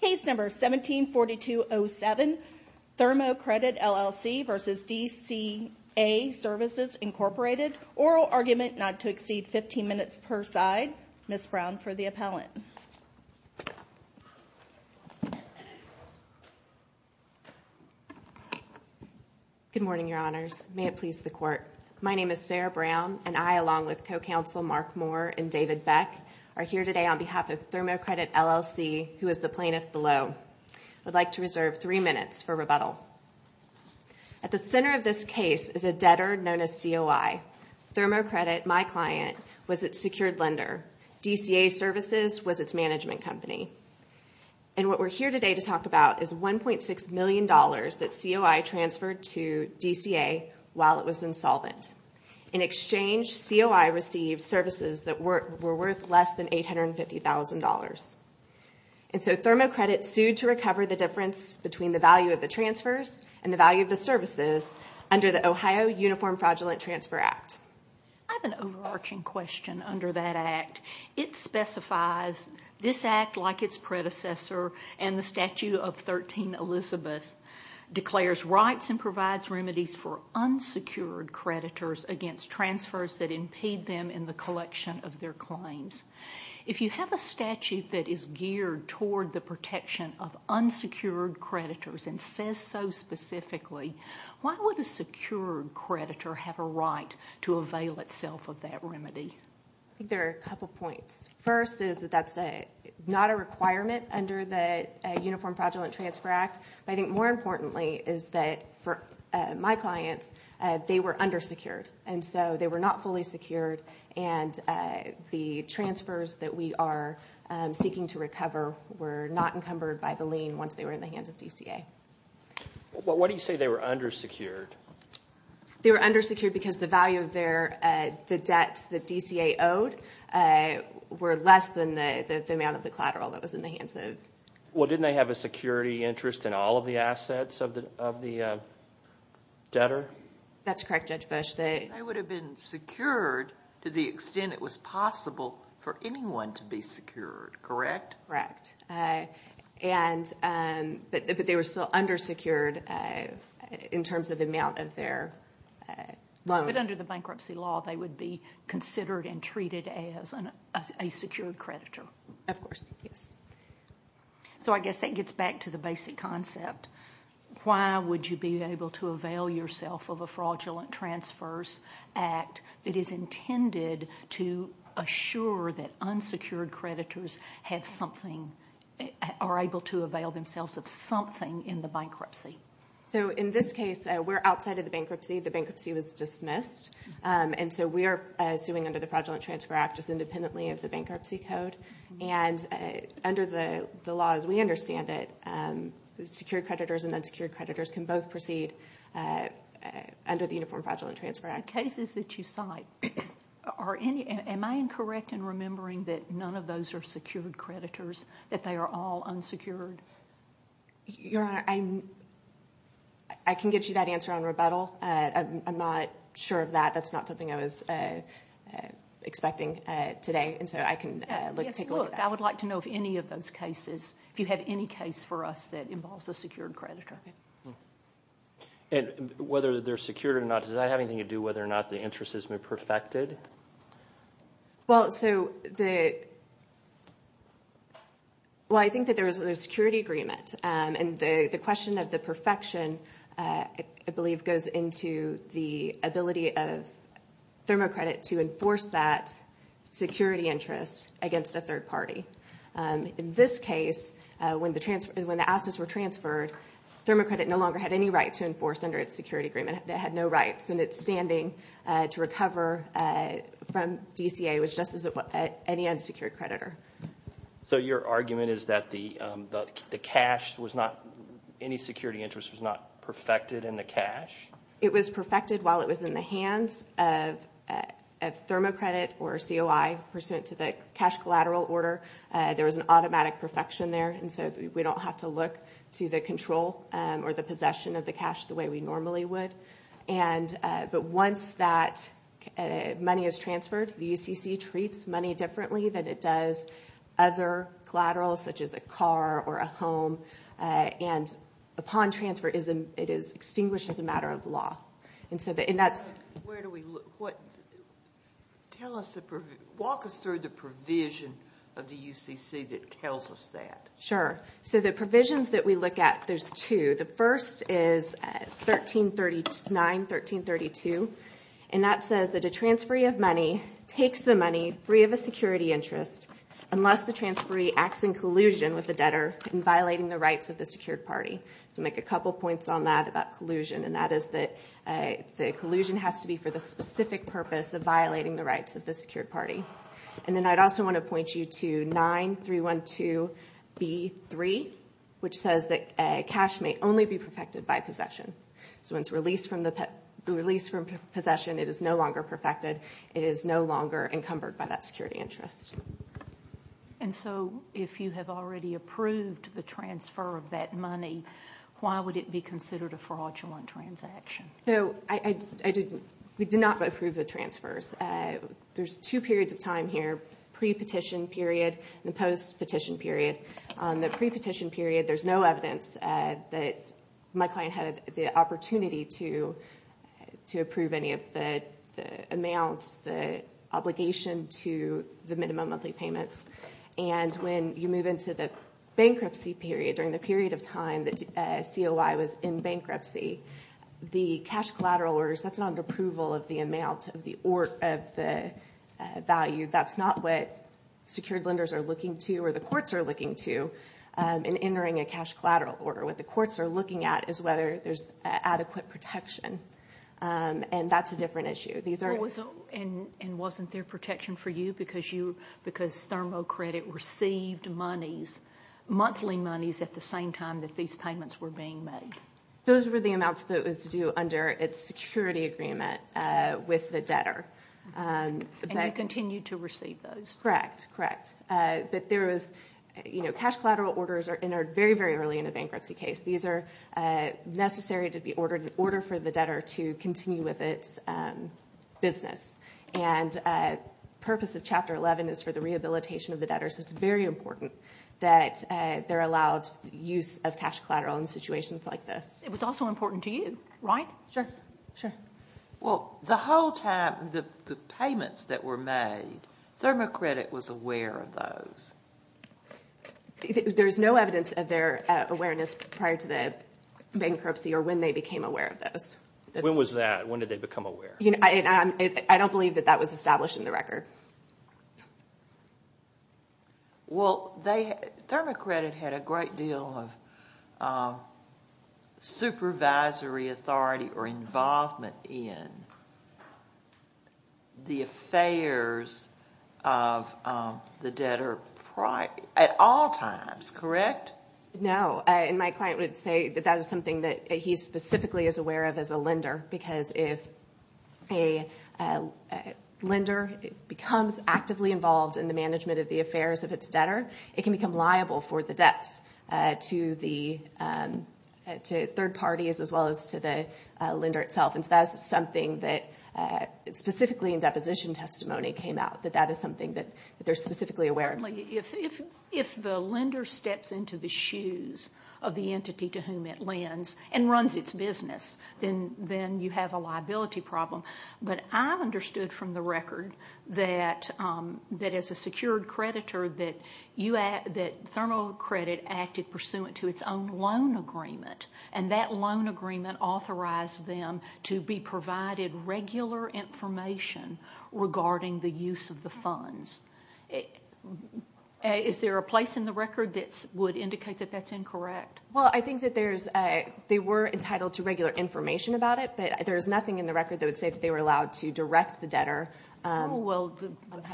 Case number 174207, Thermo Credit LLC v. DCA Services Incorporated, oral argument not to exceed 15 minutes per side, Ms. Brown for the appellant. Good morning your honors, may it please the court. My name is Sarah Brown and I along with co-counsel Mark Moore and David Beck are here today on behalf of Thermo Credit LLC who is the plaintiff below. I would like to reserve three minutes for rebuttal. At the center of this case is a debtor known as COI. Thermo Credit, my client, was its secured lender. DCA Services was its management company. And what we're here today to talk about is $1.6 million that COI transferred to DCA while it was insolvent. In exchange, COI received services that were worth less than $850,000. And so Thermo Credit sued to recover the difference between the value of the transfers and the value of the services under the Ohio Uniform Fraudulent Transfer Act. I have an overarching question under that act. It specifies this act like its predecessor and the Statute of 13 Elizabeth declares rights and provides remedies for unsecured creditors against transfers that impede them in the collection of their claims. If you have a statute that is geared toward the protection of unsecured creditors and says so specifically, why would a secured creditor have a right to avail itself of that remedy? I think there are a couple points. First is that that's not a requirement under the Uniform Fraudulent Transfer Act. But I think more importantly is that for my clients, they were undersecured. And so they were not fully secured and the transfers that we are seeking to recover were not encumbered by the lien once they were in the hands of DCA. What do you say they were undersecured? They were undersecured because the value of the debts that DCA owed were less than the amount of the collateral that was in the hands of... Well, didn't they have a security interest in all of the assets of the debtor? That's correct, Judge Bush. They would have been secured to the extent it was possible for anyone to be secured, correct? Correct. But they were still undersecured in terms of the amount of their loans. But under the bankruptcy law, they would be considered and treated as a secured creditor. Of course, yes. So I guess that gets back to the basic concept. Why would you be able to avail yourself of a Fraudulent Transfers Act that is intended to assure that unsecured creditors are able to avail themselves of something in the bankruptcy? So in this case, we're outside of the bankruptcy. The bankruptcy was dismissed. And so we are suing under the Fraudulent Transfer Act just independently of the bankruptcy code. And under the law as we understand it, secured creditors and unsecured creditors can both proceed under the Uniform Fraudulent Transfer Act. The cases that you cite, am I incorrect in remembering that none of those are secured creditors, that they are all unsecured? Your Honor, I can get you that answer on rebuttal. I'm not sure of that. That's not something I was expecting today. And so I can take a look at that. Yes, look, I would like to know if any of those cases, if you have any case for us that involves a secured creditor. And whether they're secured or not, does that have anything to do with whether or not the interest has been perfected? Well, so the – well, I think that there is a security agreement. And the question of the perfection, I believe, goes into the ability of Thermo Credit to enforce that security interest against a third party. In this case, when the assets were transferred, Thermo Credit no longer had any right to enforce under its security agreement. It had no rights in its standing to recover from DCA, which just as any unsecured creditor. So your argument is that the cash was not – any security interest was not perfected in the cash? It was perfected while it was in the hands of Thermo Credit or COI pursuant to the cash collateral order. There was an automatic perfection there. And so we don't have to look to the control or the possession of the cash the way we normally would. But once that money is transferred, the UCC treats money differently than it does other collaterals, such as a car or a home. And upon transfer, it is extinguished as a matter of law. Where do we look? Walk us through the provision of the UCC that tells us that. Sure. So the provisions that we look at, there's two. The first is 1339, 1332, and that says that a transferee of money takes the money free of a security interest unless the transferee acts in collusion with the debtor in violating the rights of the secured party. So make a couple points on that about collusion. And that is that the collusion has to be for the specific purpose of violating the rights of the secured party. And then I'd also want to point you to 9312B3, which says that cash may only be perfected by possession. So once released from possession, it is no longer perfected. It is no longer encumbered by that security interest. And so if you have already approved the transfer of that money, why would it be considered a fraudulent transaction? So we did not approve the transfers. There's two periods of time here, pre-petition period and post-petition period. On the pre-petition period, there's no evidence that my client had the opportunity to approve any of the amounts, the obligation to the minimum monthly payments. And when you move into the bankruptcy period, during the period of time that COI was in bankruptcy, the cash collateral orders, that's not an approval of the amount of the value. That's not what secured lenders are looking to or the courts are looking to in entering a cash collateral order. What the courts are looking at is whether there's adequate protection. And that's a different issue. And wasn't there protection for you because Thermo Credit received monies, monthly monies at the same time that these payments were being made? Those were the amounts that it was due under its security agreement with the debtor. And you continued to receive those? Correct, correct. But there was, you know, cash collateral orders are entered very, very early in a bankruptcy case. These are necessary to be ordered in order for the debtor to continue with its business. And purpose of Chapter 11 is for the rehabilitation of the debtor, so it's very important that they're allowed use of cash collateral in situations like this. It was also important to you, right? Sure. Sure. Well, the whole time, the payments that were made, Thermo Credit was aware of those. There's no evidence of their awareness prior to the bankruptcy or when they became aware of those. When was that? When did they become aware? I don't believe that that was established in the record. Well, Thermo Credit had a great deal of supervisory authority or involvement in the affairs of the debtor at all times, correct? No. And my client would say that that is something that he specifically is aware of as a lender because if a lender becomes actively involved in the management of the affairs of its debtor, it can become liable for the debts to third parties as well as to the lender itself. And so that is something that specifically in deposition testimony came out, that that is something that they're specifically aware of. Certainly, if the lender steps into the shoes of the entity to whom it lends and runs its business, then you have a liability problem. But I understood from the record that as a secured creditor that Thermo Credit acted pursuant to its own loan agreement, and that loan agreement authorized them to be provided regular information regarding the use of the funds. Is there a place in the record that would indicate that that's incorrect? Well, I think that they were entitled to regular information about it, but there is nothing in the record that would say that they were allowed to direct the debtor. Well,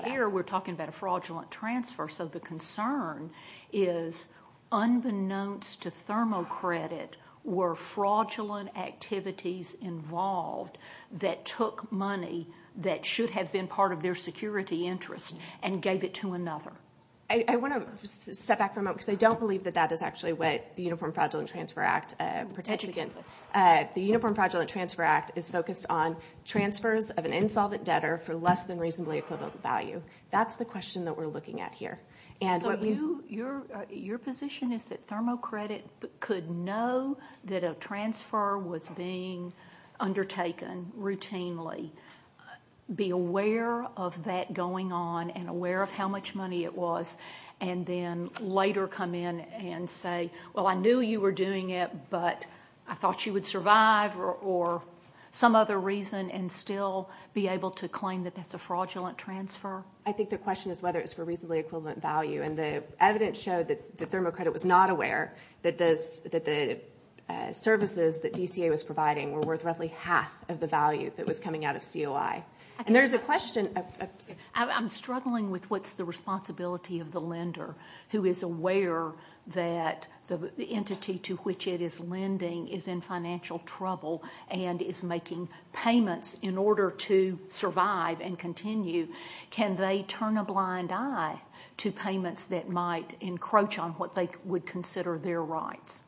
here we're talking about a fraudulent transfer. So the concern is unbeknownst to Thermo Credit were fraudulent activities involved that took money that should have been part of their security interest and gave it to another. I want to step back for a moment because I don't believe that that is actually what the Uniform Fraudulent Transfer Act protects against. The Uniform Fraudulent Transfer Act is focused on transfers of an insolvent debtor for less than reasonably equivalent value. That's the question that we're looking at here. So your position is that Thermo Credit could know that a transfer was being undertaken routinely, be aware of that going on and aware of how much money it was, and then later come in and say, well, I knew you were doing it, but I thought you would survive or some other reason and still be able to claim that that's a fraudulent transfer? I think the question is whether it's for reasonably equivalent value. And the evidence showed that Thermo Credit was not aware that the services that DCA was providing were worth roughly half of the value that was coming out of COI. And there's a question of... I'm struggling with what's the responsibility of the lender who is aware that the entity to which it is lending is in financial trouble and is making payments in order to survive and continue. Can they turn a blind eye to payments that might encroach on what they would consider their rights?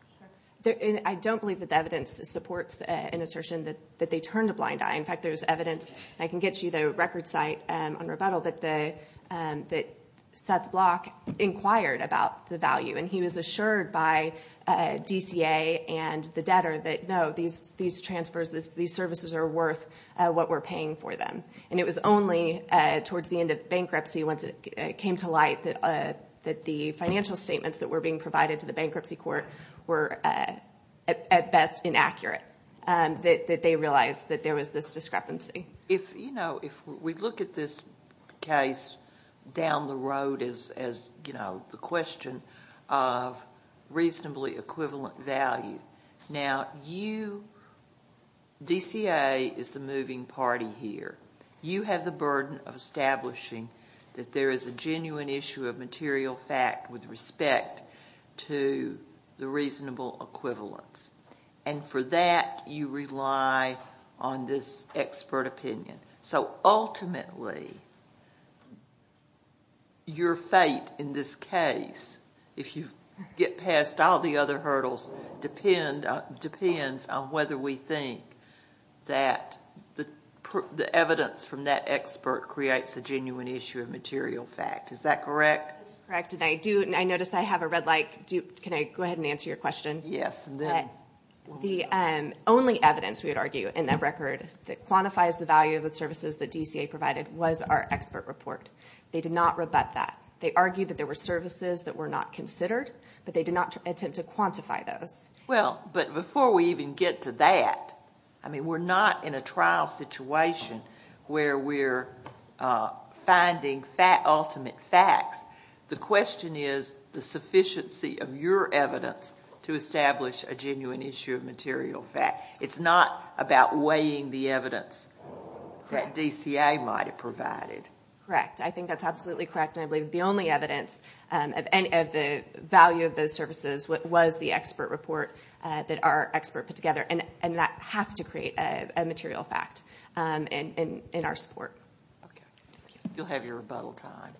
I don't believe that the evidence supports an assertion that they turn a blind eye. In fact, there's evidence, and I can get you the record site on rebuttal, that Seth Block inquired about the value, and he was assured by DCA and the debtor that, no, these transfers, these services are worth what we're paying for them. And it was only towards the end of bankruptcy, once it came to light, that the financial statements that were being provided to the bankruptcy court were, at best, inaccurate, that they realized that there was this discrepancy. If we look at this case down the road as the question of reasonably equivalent value, now, DCA is the moving party here. You have the burden of establishing that there is a genuine issue of material fact with respect to the reasonable equivalence. And for that, you rely on this expert opinion. So ultimately, your fate in this case, if you get past all the other hurdles, depends on whether we think that the evidence from that expert creates a genuine issue of material fact. Is that correct? It's correct, and I notice I have a red light. Can I go ahead and answer your question? Yes. The only evidence, we would argue, in that record that quantifies the value of the services that DCA provided was our expert report. They did not rebut that. They argued that there were services that were not considered, but they did not attempt to quantify those. Well, but before we even get to that, I mean, we're not in a trial situation where we're finding ultimate facts. The question is the sufficiency of your evidence to establish a genuine issue of material fact. It's not about weighing the evidence that DCA might have provided. Correct. I think that's absolutely correct, and I believe the only evidence of the value of those services was the expert report that our expert put together, and that has to create a material fact in our support. You'll have your rebuttal time.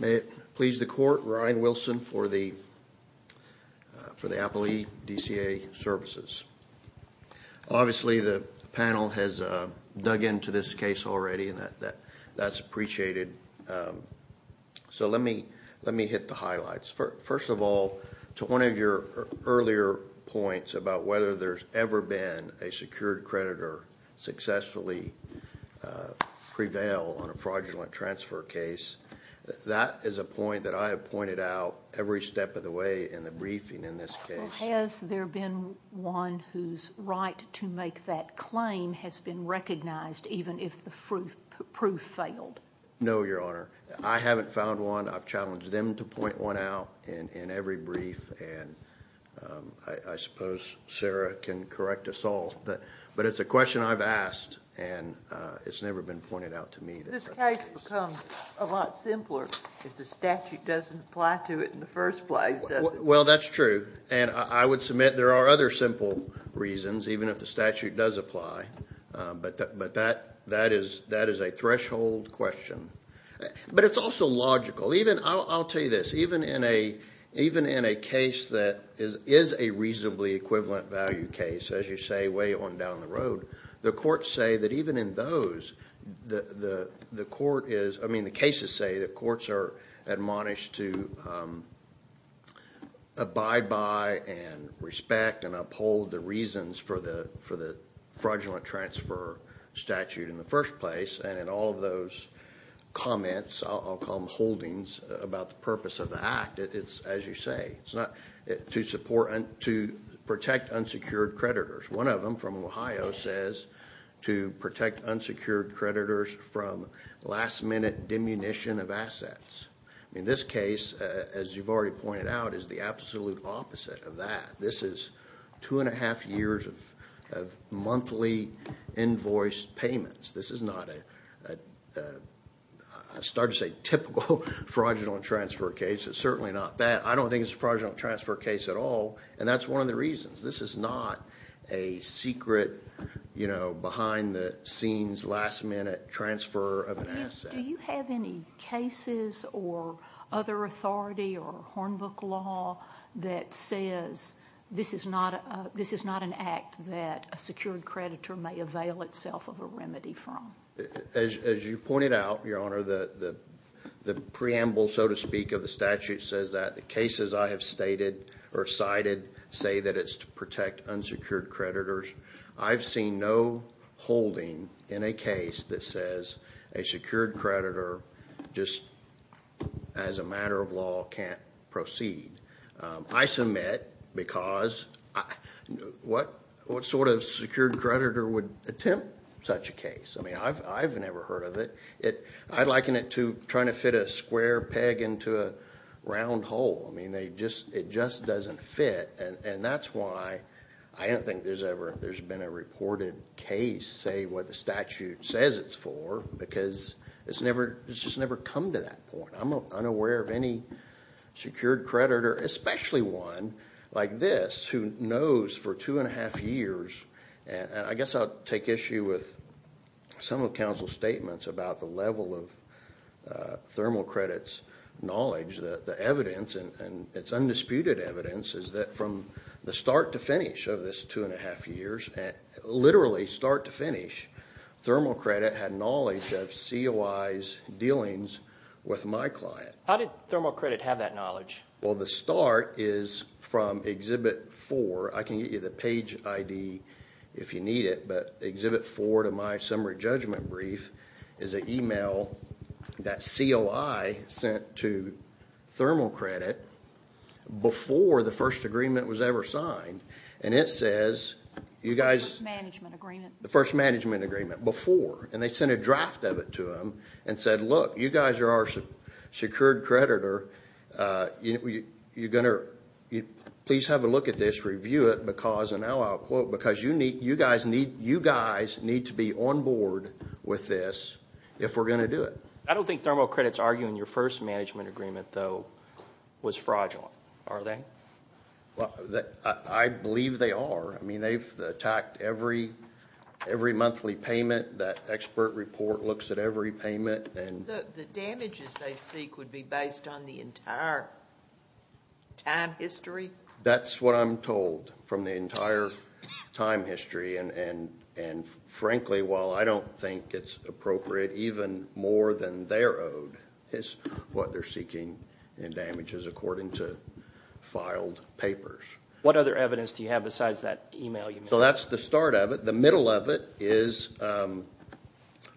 May it please the Court, Ryan Wilson for the Appellee DCA Services. Obviously, the panel has dug into this case already, and that's appreciated. So let me hit the highlights. First of all, to one of your earlier points about whether there's ever been a secured creditor successfully prevail on a fraudulent transfer case, that is a point that I have pointed out every step of the way in the briefing in this case. Has there been one whose right to make that claim has been recognized even if the proof failed? No, Your Honor. I haven't found one. I've challenged them to point one out in every brief, and I suppose Sarah can correct us all. But it's a question I've asked, and it's never been pointed out to me. This case becomes a lot simpler if the statute doesn't apply to it in the first place, does it? Well, that's true, and I would submit there are other simple reasons, even if the statute does apply. But that is a threshold question. But it's also logical. I'll tell you this. Even in a case that is a reasonably equivalent value case, as you say way on down the road, the courts say that even in those, the court is, I mean the cases say the courts are admonished to abide by and respect and uphold the reasons for the fraudulent transfer statute in the first place. And in all of those comments, I'll call them holdings, about the purpose of the act, it's as you say. It's to protect unsecured creditors. One of them from Ohio says to protect unsecured creditors from last minute demunition of assets. In this case, as you've already pointed out, is the absolute opposite of that. This is two and a half years of monthly invoice payments. This is not a, I started to say typical fraudulent transfer case. It's certainly not that. I don't think it's a fraudulent transfer case at all, and that's one of the reasons. This is not a secret, you know, behind the scenes, last minute transfer of an asset. Do you have any cases or other authority or Hornbook law that says this is not an act that a secured creditor may avail itself of a remedy from? As you pointed out, Your Honor, the preamble, so to speak, of the statute says that the cases I have stated or cited say that it's to protect unsecured creditors. I've seen no holding in a case that says a secured creditor just as a matter of law can't proceed. I submit because what sort of secured creditor would attempt such a case? I mean, I've never heard of it. I liken it to trying to fit a square peg into a round hole. I mean, it just doesn't fit, and that's why I don't think there's ever been a reported case say what the statute says it's for because it's just never come to that point. I'm unaware of any secured creditor, especially one like this, who knows for two and a half years, and I guess I'll take issue with some of counsel's statements about the level of Thermal Credit's knowledge. The evidence, and it's undisputed evidence, is that from the start to finish of this two and a half years, literally start to finish, Thermal Credit had knowledge of COI's dealings with my client. How did Thermal Credit have that knowledge? Well, the start is from Exhibit 4. I can get you the page ID if you need it, but Exhibit 4 to my summary judgment brief is an e-mail that COI sent to Thermal Credit before the first agreement was ever signed, and it says you guys. The first management agreement. The first management agreement before, and they sent a draft of it to them and said, look, you guys are our secured creditor. Please have a look at this. Review it because, and now I'll quote, because you guys need to be on board with this if we're going to do it. I don't think Thermal Credit's arguing your first management agreement, though, was fraudulent. Are they? I believe they are. I mean, they've attacked every monthly payment. That expert report looks at every payment. The damages they seek would be based on the entire time history? That's what I'm told from the entire time history, and frankly, while I don't think it's appropriate, even more than their ode is what they're seeking in damages according to filed papers. What other evidence do you have besides that e-mail you made? So that's the start of it. The middle of it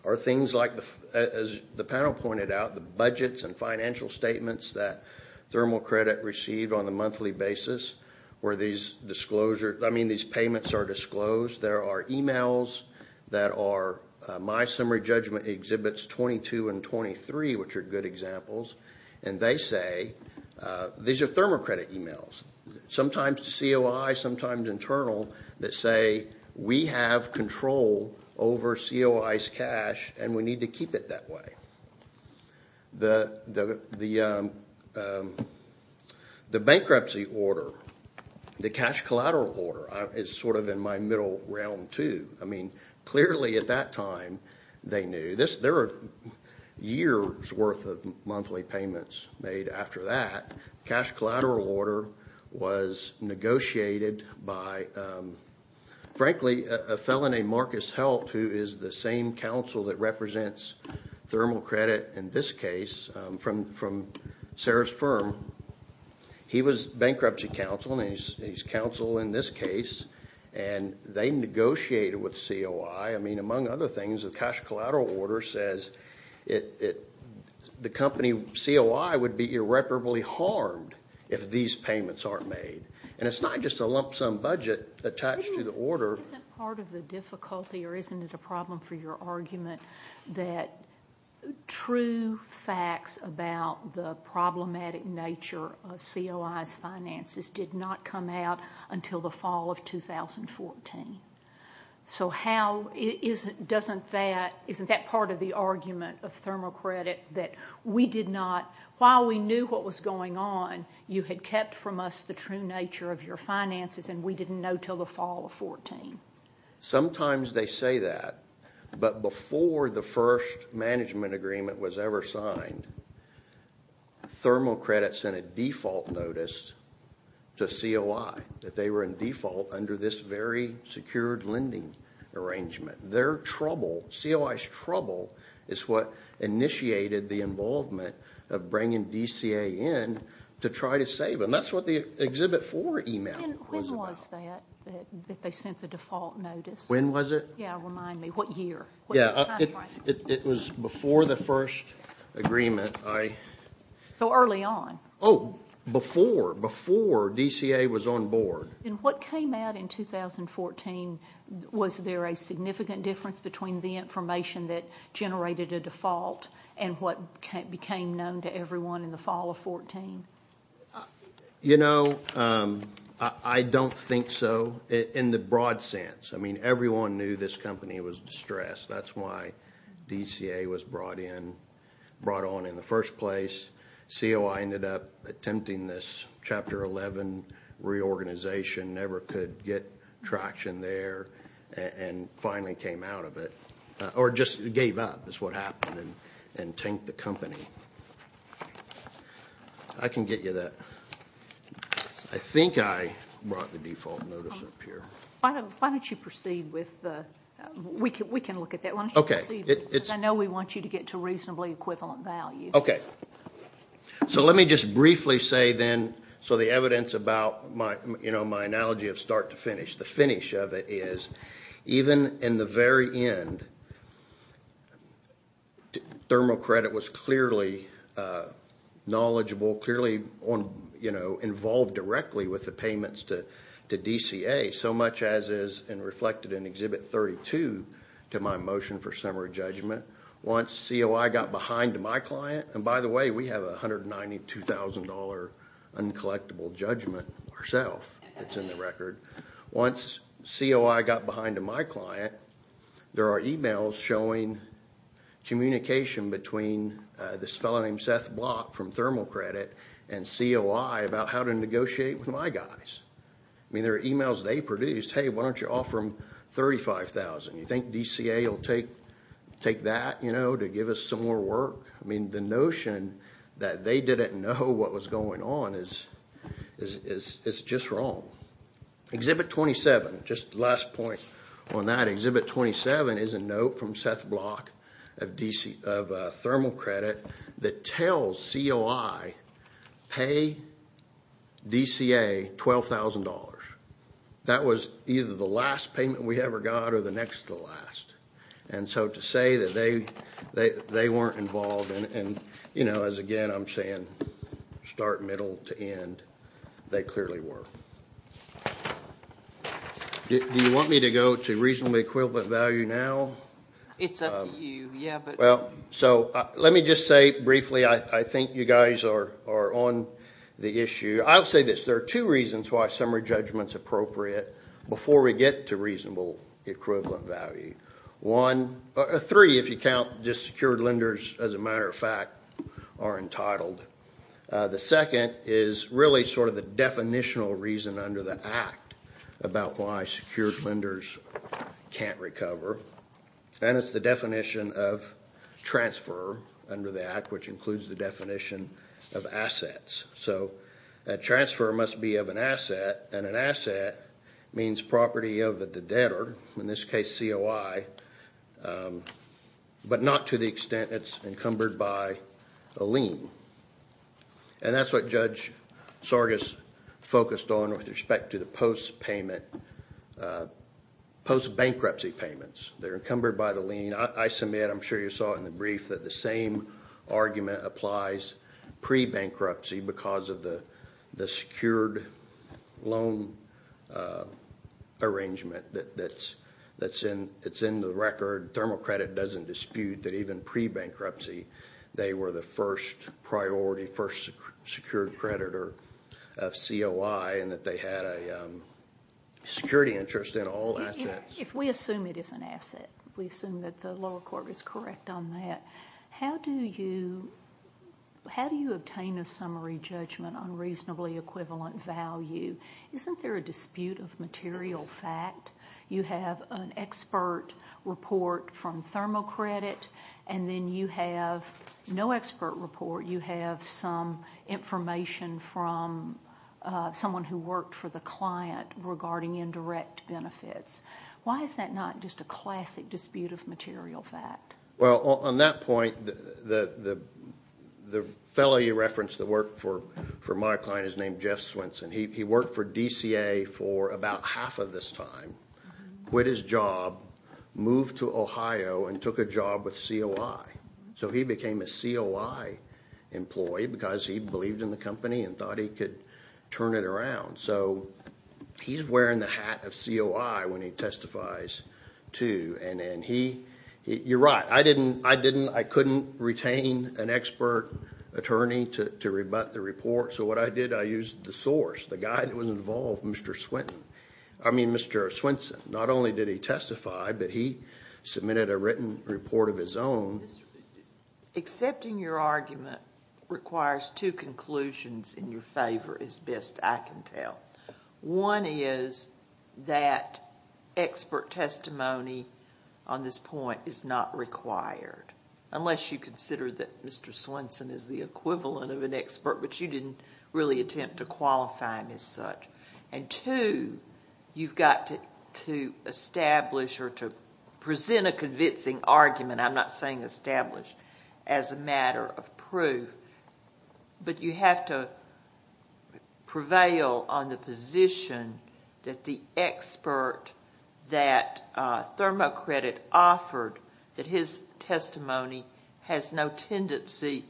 are things like, as the panel pointed out, the budgets and financial statements that Thermal Credit received on a monthly basis where these payments are disclosed. There are e-mails that are My Summary Judgment exhibits 22 and 23, which are good examples, and they say these are Thermal Credit e-mails, sometimes COI, sometimes internal, that say we have control over COI's cash and we need to keep it that way. The bankruptcy order, the cash collateral order, is sort of in my middle realm, too. I mean, clearly at that time they knew. There are years' worth of monthly payments made after that. Cash collateral order was negotiated by, frankly, a fellow named Marcus Helt, who is the same counsel that represents Thermal Credit in this case from Sarah's firm. He was bankruptcy counsel, and he's counsel in this case, and they negotiated with COI. I mean, among other things, the cash collateral order says the company, COI, would be irreparably harmed if these payments aren't made. And it's not just a lump sum budget attached to the order. Isn't part of the difficulty, or isn't it a problem for your argument, that true facts about the problematic nature of COI's finances did not come out until the fall of 2014? So isn't that part of the argument of Thermal Credit that we did not, while we knew what was going on, you had kept from us the true nature of your finances and we didn't know until the fall of 2014? Sometimes they say that, but before the first management agreement was ever signed, Thermal Credit sent a default notice to COI, that they were in default under this very secured lending arrangement. Their trouble, COI's trouble, is what initiated the involvement of bringing DCA in to try to save them. That's what the Exhibit 4 email was about. When was that, that they sent the default notice? When was it? Yeah, remind me. What year? It was before the first agreement. So early on? Oh, before, before DCA was on board. And what came out in 2014, was there a significant difference between the information that generated a default and what became known to everyone in the fall of 2014? You know, I don't think so in the broad sense. I mean, everyone knew this company was distressed. That's why DCA was brought in, brought on in the first place. COI ended up attempting this Chapter 11 reorganization, never could get traction there, and finally came out of it. Or just gave up, is what happened, and tanked the company. I can get you that. I think I brought the default notice up here. Why don't you proceed with the, we can look at that. Why don't you proceed, because I know we want you to get to reasonably equivalent value. Okay. So let me just briefly say then, so the evidence about my analogy of start to finish. The finish of it is, even in the very end, Thermo Credit was clearly knowledgeable, clearly involved directly with the payments to DCA, so much as is reflected in Exhibit 32 to my motion for summary judgment. Once COI got behind to my client, and by the way, we have a $192,000 uncollectible judgment ourself that's in the record. Once COI got behind to my client, there are emails showing communication between this fellow named Seth Block from Thermo Credit and COI about how to negotiate with my guys. I mean, there are emails they produced. Hey, why don't you offer them $35,000? You think DCA will take that, you know, to give us some more work? I mean, the notion that they didn't know what was going on is just wrong. Exhibit 27, just last point on that. Exhibit 27 is a note from Seth Block of Thermo Credit that tells COI, pay DCA $12,000. That was either the last payment we ever got or the next to the last. And so to say that they weren't involved, and, you know, as again, I'm saying start middle to end, they clearly were. Do you want me to go to reasonably equivalent value now? It's up to you, yeah, but. Well, so let me just say briefly, I think you guys are on the issue. I'll say this. There are two reasons why summary judgment's appropriate before we get to reasonable equivalent value. Three, if you count just secured lenders, as a matter of fact, are entitled. The second is really sort of the definitional reason under the Act about why secured lenders can't recover, and it's the definition of transfer under the Act, which includes the definition of assets. So a transfer must be of an asset, and an asset means property of the debtor, in this case COI, but not to the extent it's encumbered by a lien. And that's what Judge Sargas focused on with respect to the post-payment, post-bankruptcy payments. They're encumbered by the lien. I submit, I'm sure you saw it in the brief, that the same argument applies pre-bankruptcy because of the secured loan arrangement that's in the record. Thermal Credit doesn't dispute that even pre-bankruptcy they were the first priority, first secured creditor of COI and that they had a security interest in all assets. If we assume it is an asset, we assume that the lower court is correct on that, how do you obtain a summary judgment on reasonably equivalent value? Isn't there a dispute of material fact? You have an expert report from Thermal Credit, and then you have no expert report. You have some information from someone who worked for the client regarding indirect benefits. Why is that not just a classic dispute of material fact? Well, on that point, the fellow you referenced that worked for my client is named Jeff Swenson. He worked for DCA for about half of this time, quit his job, moved to Ohio, and took a job with COI. So he became a COI employee because he believed in the company and thought he could turn it around. So he's wearing the hat of COI when he testifies too. And you're right, I couldn't retain an expert attorney to rebut the report, so what I did, I used the source, the guy that was involved, Mr. Swenson. Not only did he testify, but he submitted a written report of his own. Accepting your argument requires two conclusions in your favor, as best I can tell. One is that expert testimony on this point is not required, unless you consider that Mr. Swenson is the equivalent of an expert, but you didn't really attempt to qualify him as such. And two, you've got to establish or to present a convincing argument, I'm not saying establish, as a matter of proof, but you have to prevail on the position that the expert that Thermocredit offered, that his testimony has no tendency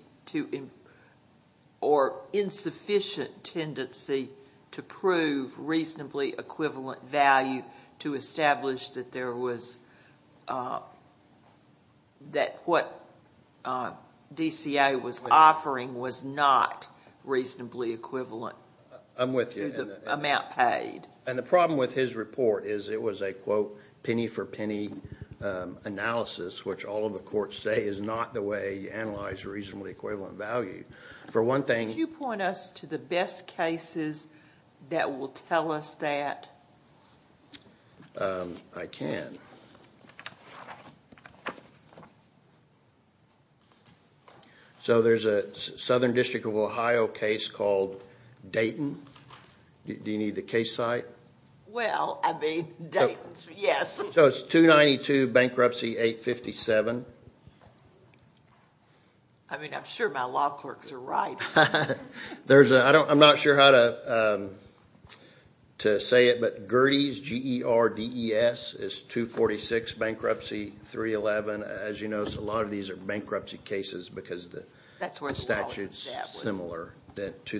or insufficient tendency to prove reasonably equivalent value to establish that what DCA was offering was not reasonably equivalent to the amount paid. And the problem with his report is it was a quote, penny for penny analysis, which all of the courts say is not the way you analyze reasonably equivalent value. For one thing... Could you point us to the best cases that will tell us that? I can. So there's a Southern District of Ohio case called Dayton. Do you need the case site? Well, I mean, Dayton, yes. So it's 292 Bankruptcy 857. I mean, I'm sure my law clerks are right. I'm not sure how to say it, but Gerdes, G-E-R-D-E-S, is 246 Bankruptcy 311. As you know, a lot of these are bankruptcy cases because the statute is similar to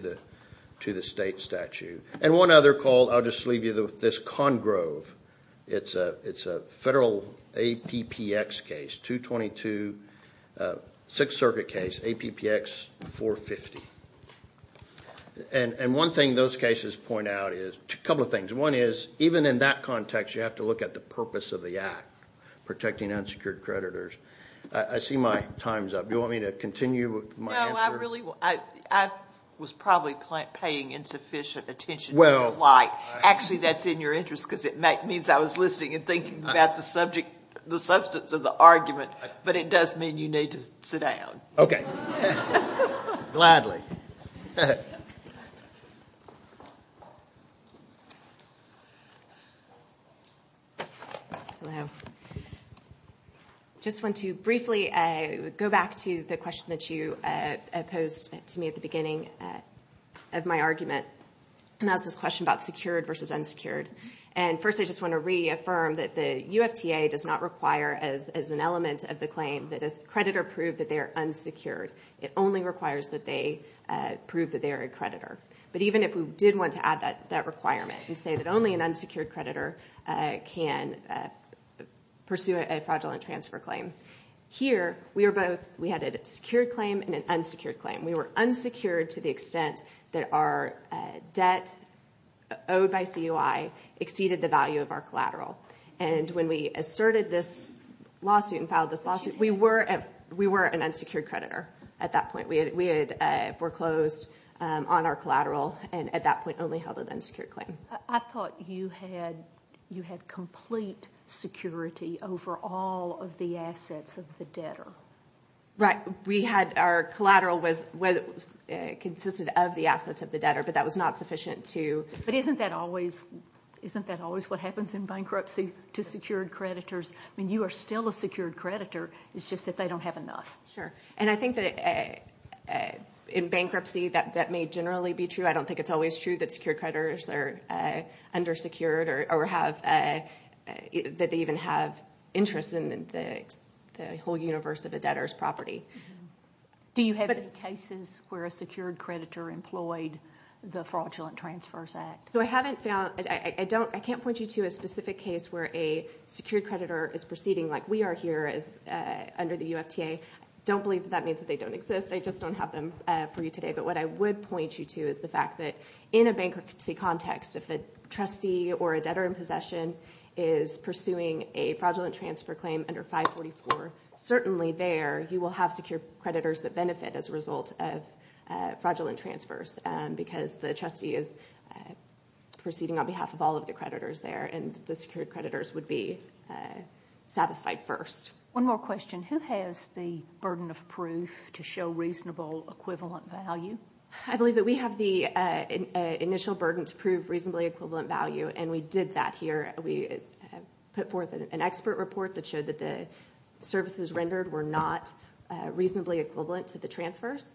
the state statute. And one other called, I'll just leave you with this, Congrove. It's a federal APPX case, 222 Sixth Circuit case, APPX 450. And one thing those cases point out is a couple of things. One is, even in that context, you have to look at the purpose of the act, protecting unsecured creditors. I see my time's up. Do you want me to continue my answer? No, I was probably paying insufficient attention to the light. Actually, that's in your interest because it means I was listening and thinking about the substance of the argument. But it does mean you need to sit down. Okay, gladly. Hello. I just want to briefly go back to the question that you posed to me at the beginning of my argument, and that was this question about secured versus unsecured. And first I just want to reaffirm that the UFTA does not require, as an element of the claim, that a creditor prove that they are unsecured. It only requires that they prove that they are a creditor. But even if we did want to add that requirement and say that only an unsecured creditor can pursue a fraudulent transfer claim, here we had a secured claim and an unsecured claim. We were unsecured to the extent that our debt owed by CUI exceeded the value of our collateral. And when we asserted this lawsuit and filed this lawsuit, we were an unsecured creditor at that point. We had foreclosed on our collateral and at that point only held an unsecured claim. I thought you had complete security over all of the assets of the debtor. Right. Our collateral consisted of the assets of the debtor, but that was not sufficient to... But isn't that always what happens in bankruptcy to secured creditors? I mean, you are still a secured creditor. It's just that they don't have enough. Sure. And I think that in bankruptcy that may generally be true. I don't think it's always true that secured creditors are undersecured or that they even have interest in the whole universe of a debtor's property. Do you have any cases where a secured creditor employed the Fraudulent Transfers Act? I can't point you to a specific case where a secured creditor is proceeding like we are here under the UFTA. I don't believe that means that they don't exist. I just don't have them for you today. But what I would point you to is the fact that in a bankruptcy context, if a trustee or a debtor in possession is pursuing a fraudulent transfer claim under 544, certainly there you will have secured creditors that benefit as a result of fraudulent transfers because the trustee is proceeding on behalf of all of the creditors there and the secured creditors would be satisfied first. One more question. Who has the burden of proof to show reasonable equivalent value? I believe that we have the initial burden to prove reasonably equivalent value, and we did that here. We put forth an expert report that showed that the services rendered were not reasonably equivalent to the transfers,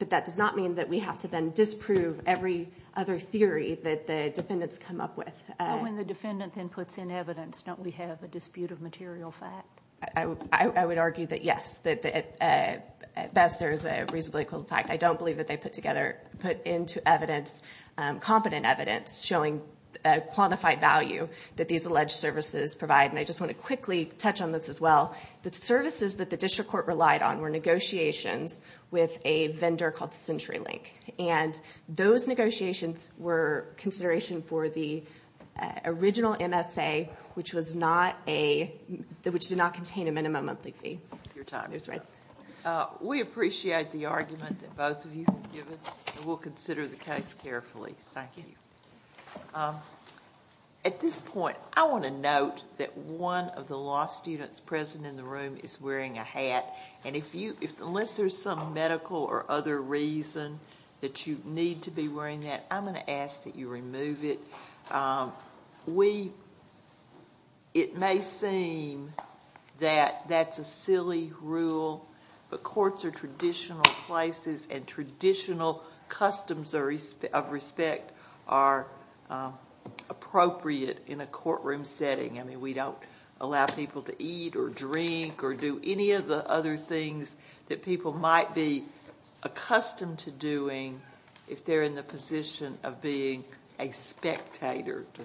but that does not mean that we have to then disprove every other theory that the defendants come up with. When the defendant then puts in evidence, don't we have a dispute of material fact? I would argue that, yes, at best there is a reasonably equivalent fact. I don't believe that they put into evidence competent evidence showing a quantified value that these alleged services provide, and I just want to quickly touch on this as well. The services that the district court relied on were negotiations with a vendor called CenturyLink, and those negotiations were consideration for the original MSA, which did not contain a minimum monthly fee. We appreciate the argument that both of you have given, and we'll consider the case carefully. Thank you. At this point, I want to note that one of the law students present in the room is wearing a hat, and unless there's some medical or other reason that you need to be wearing that, I'm going to ask that you remove it. It may seem that that's a silly rule, but courts are traditional places, and traditional customs of respect are appropriate in a courtroom setting. I mean, we don't allow people to eat or drink or do any of the other things that people might be accustomed to doing if they're in the position of being a spectator to something.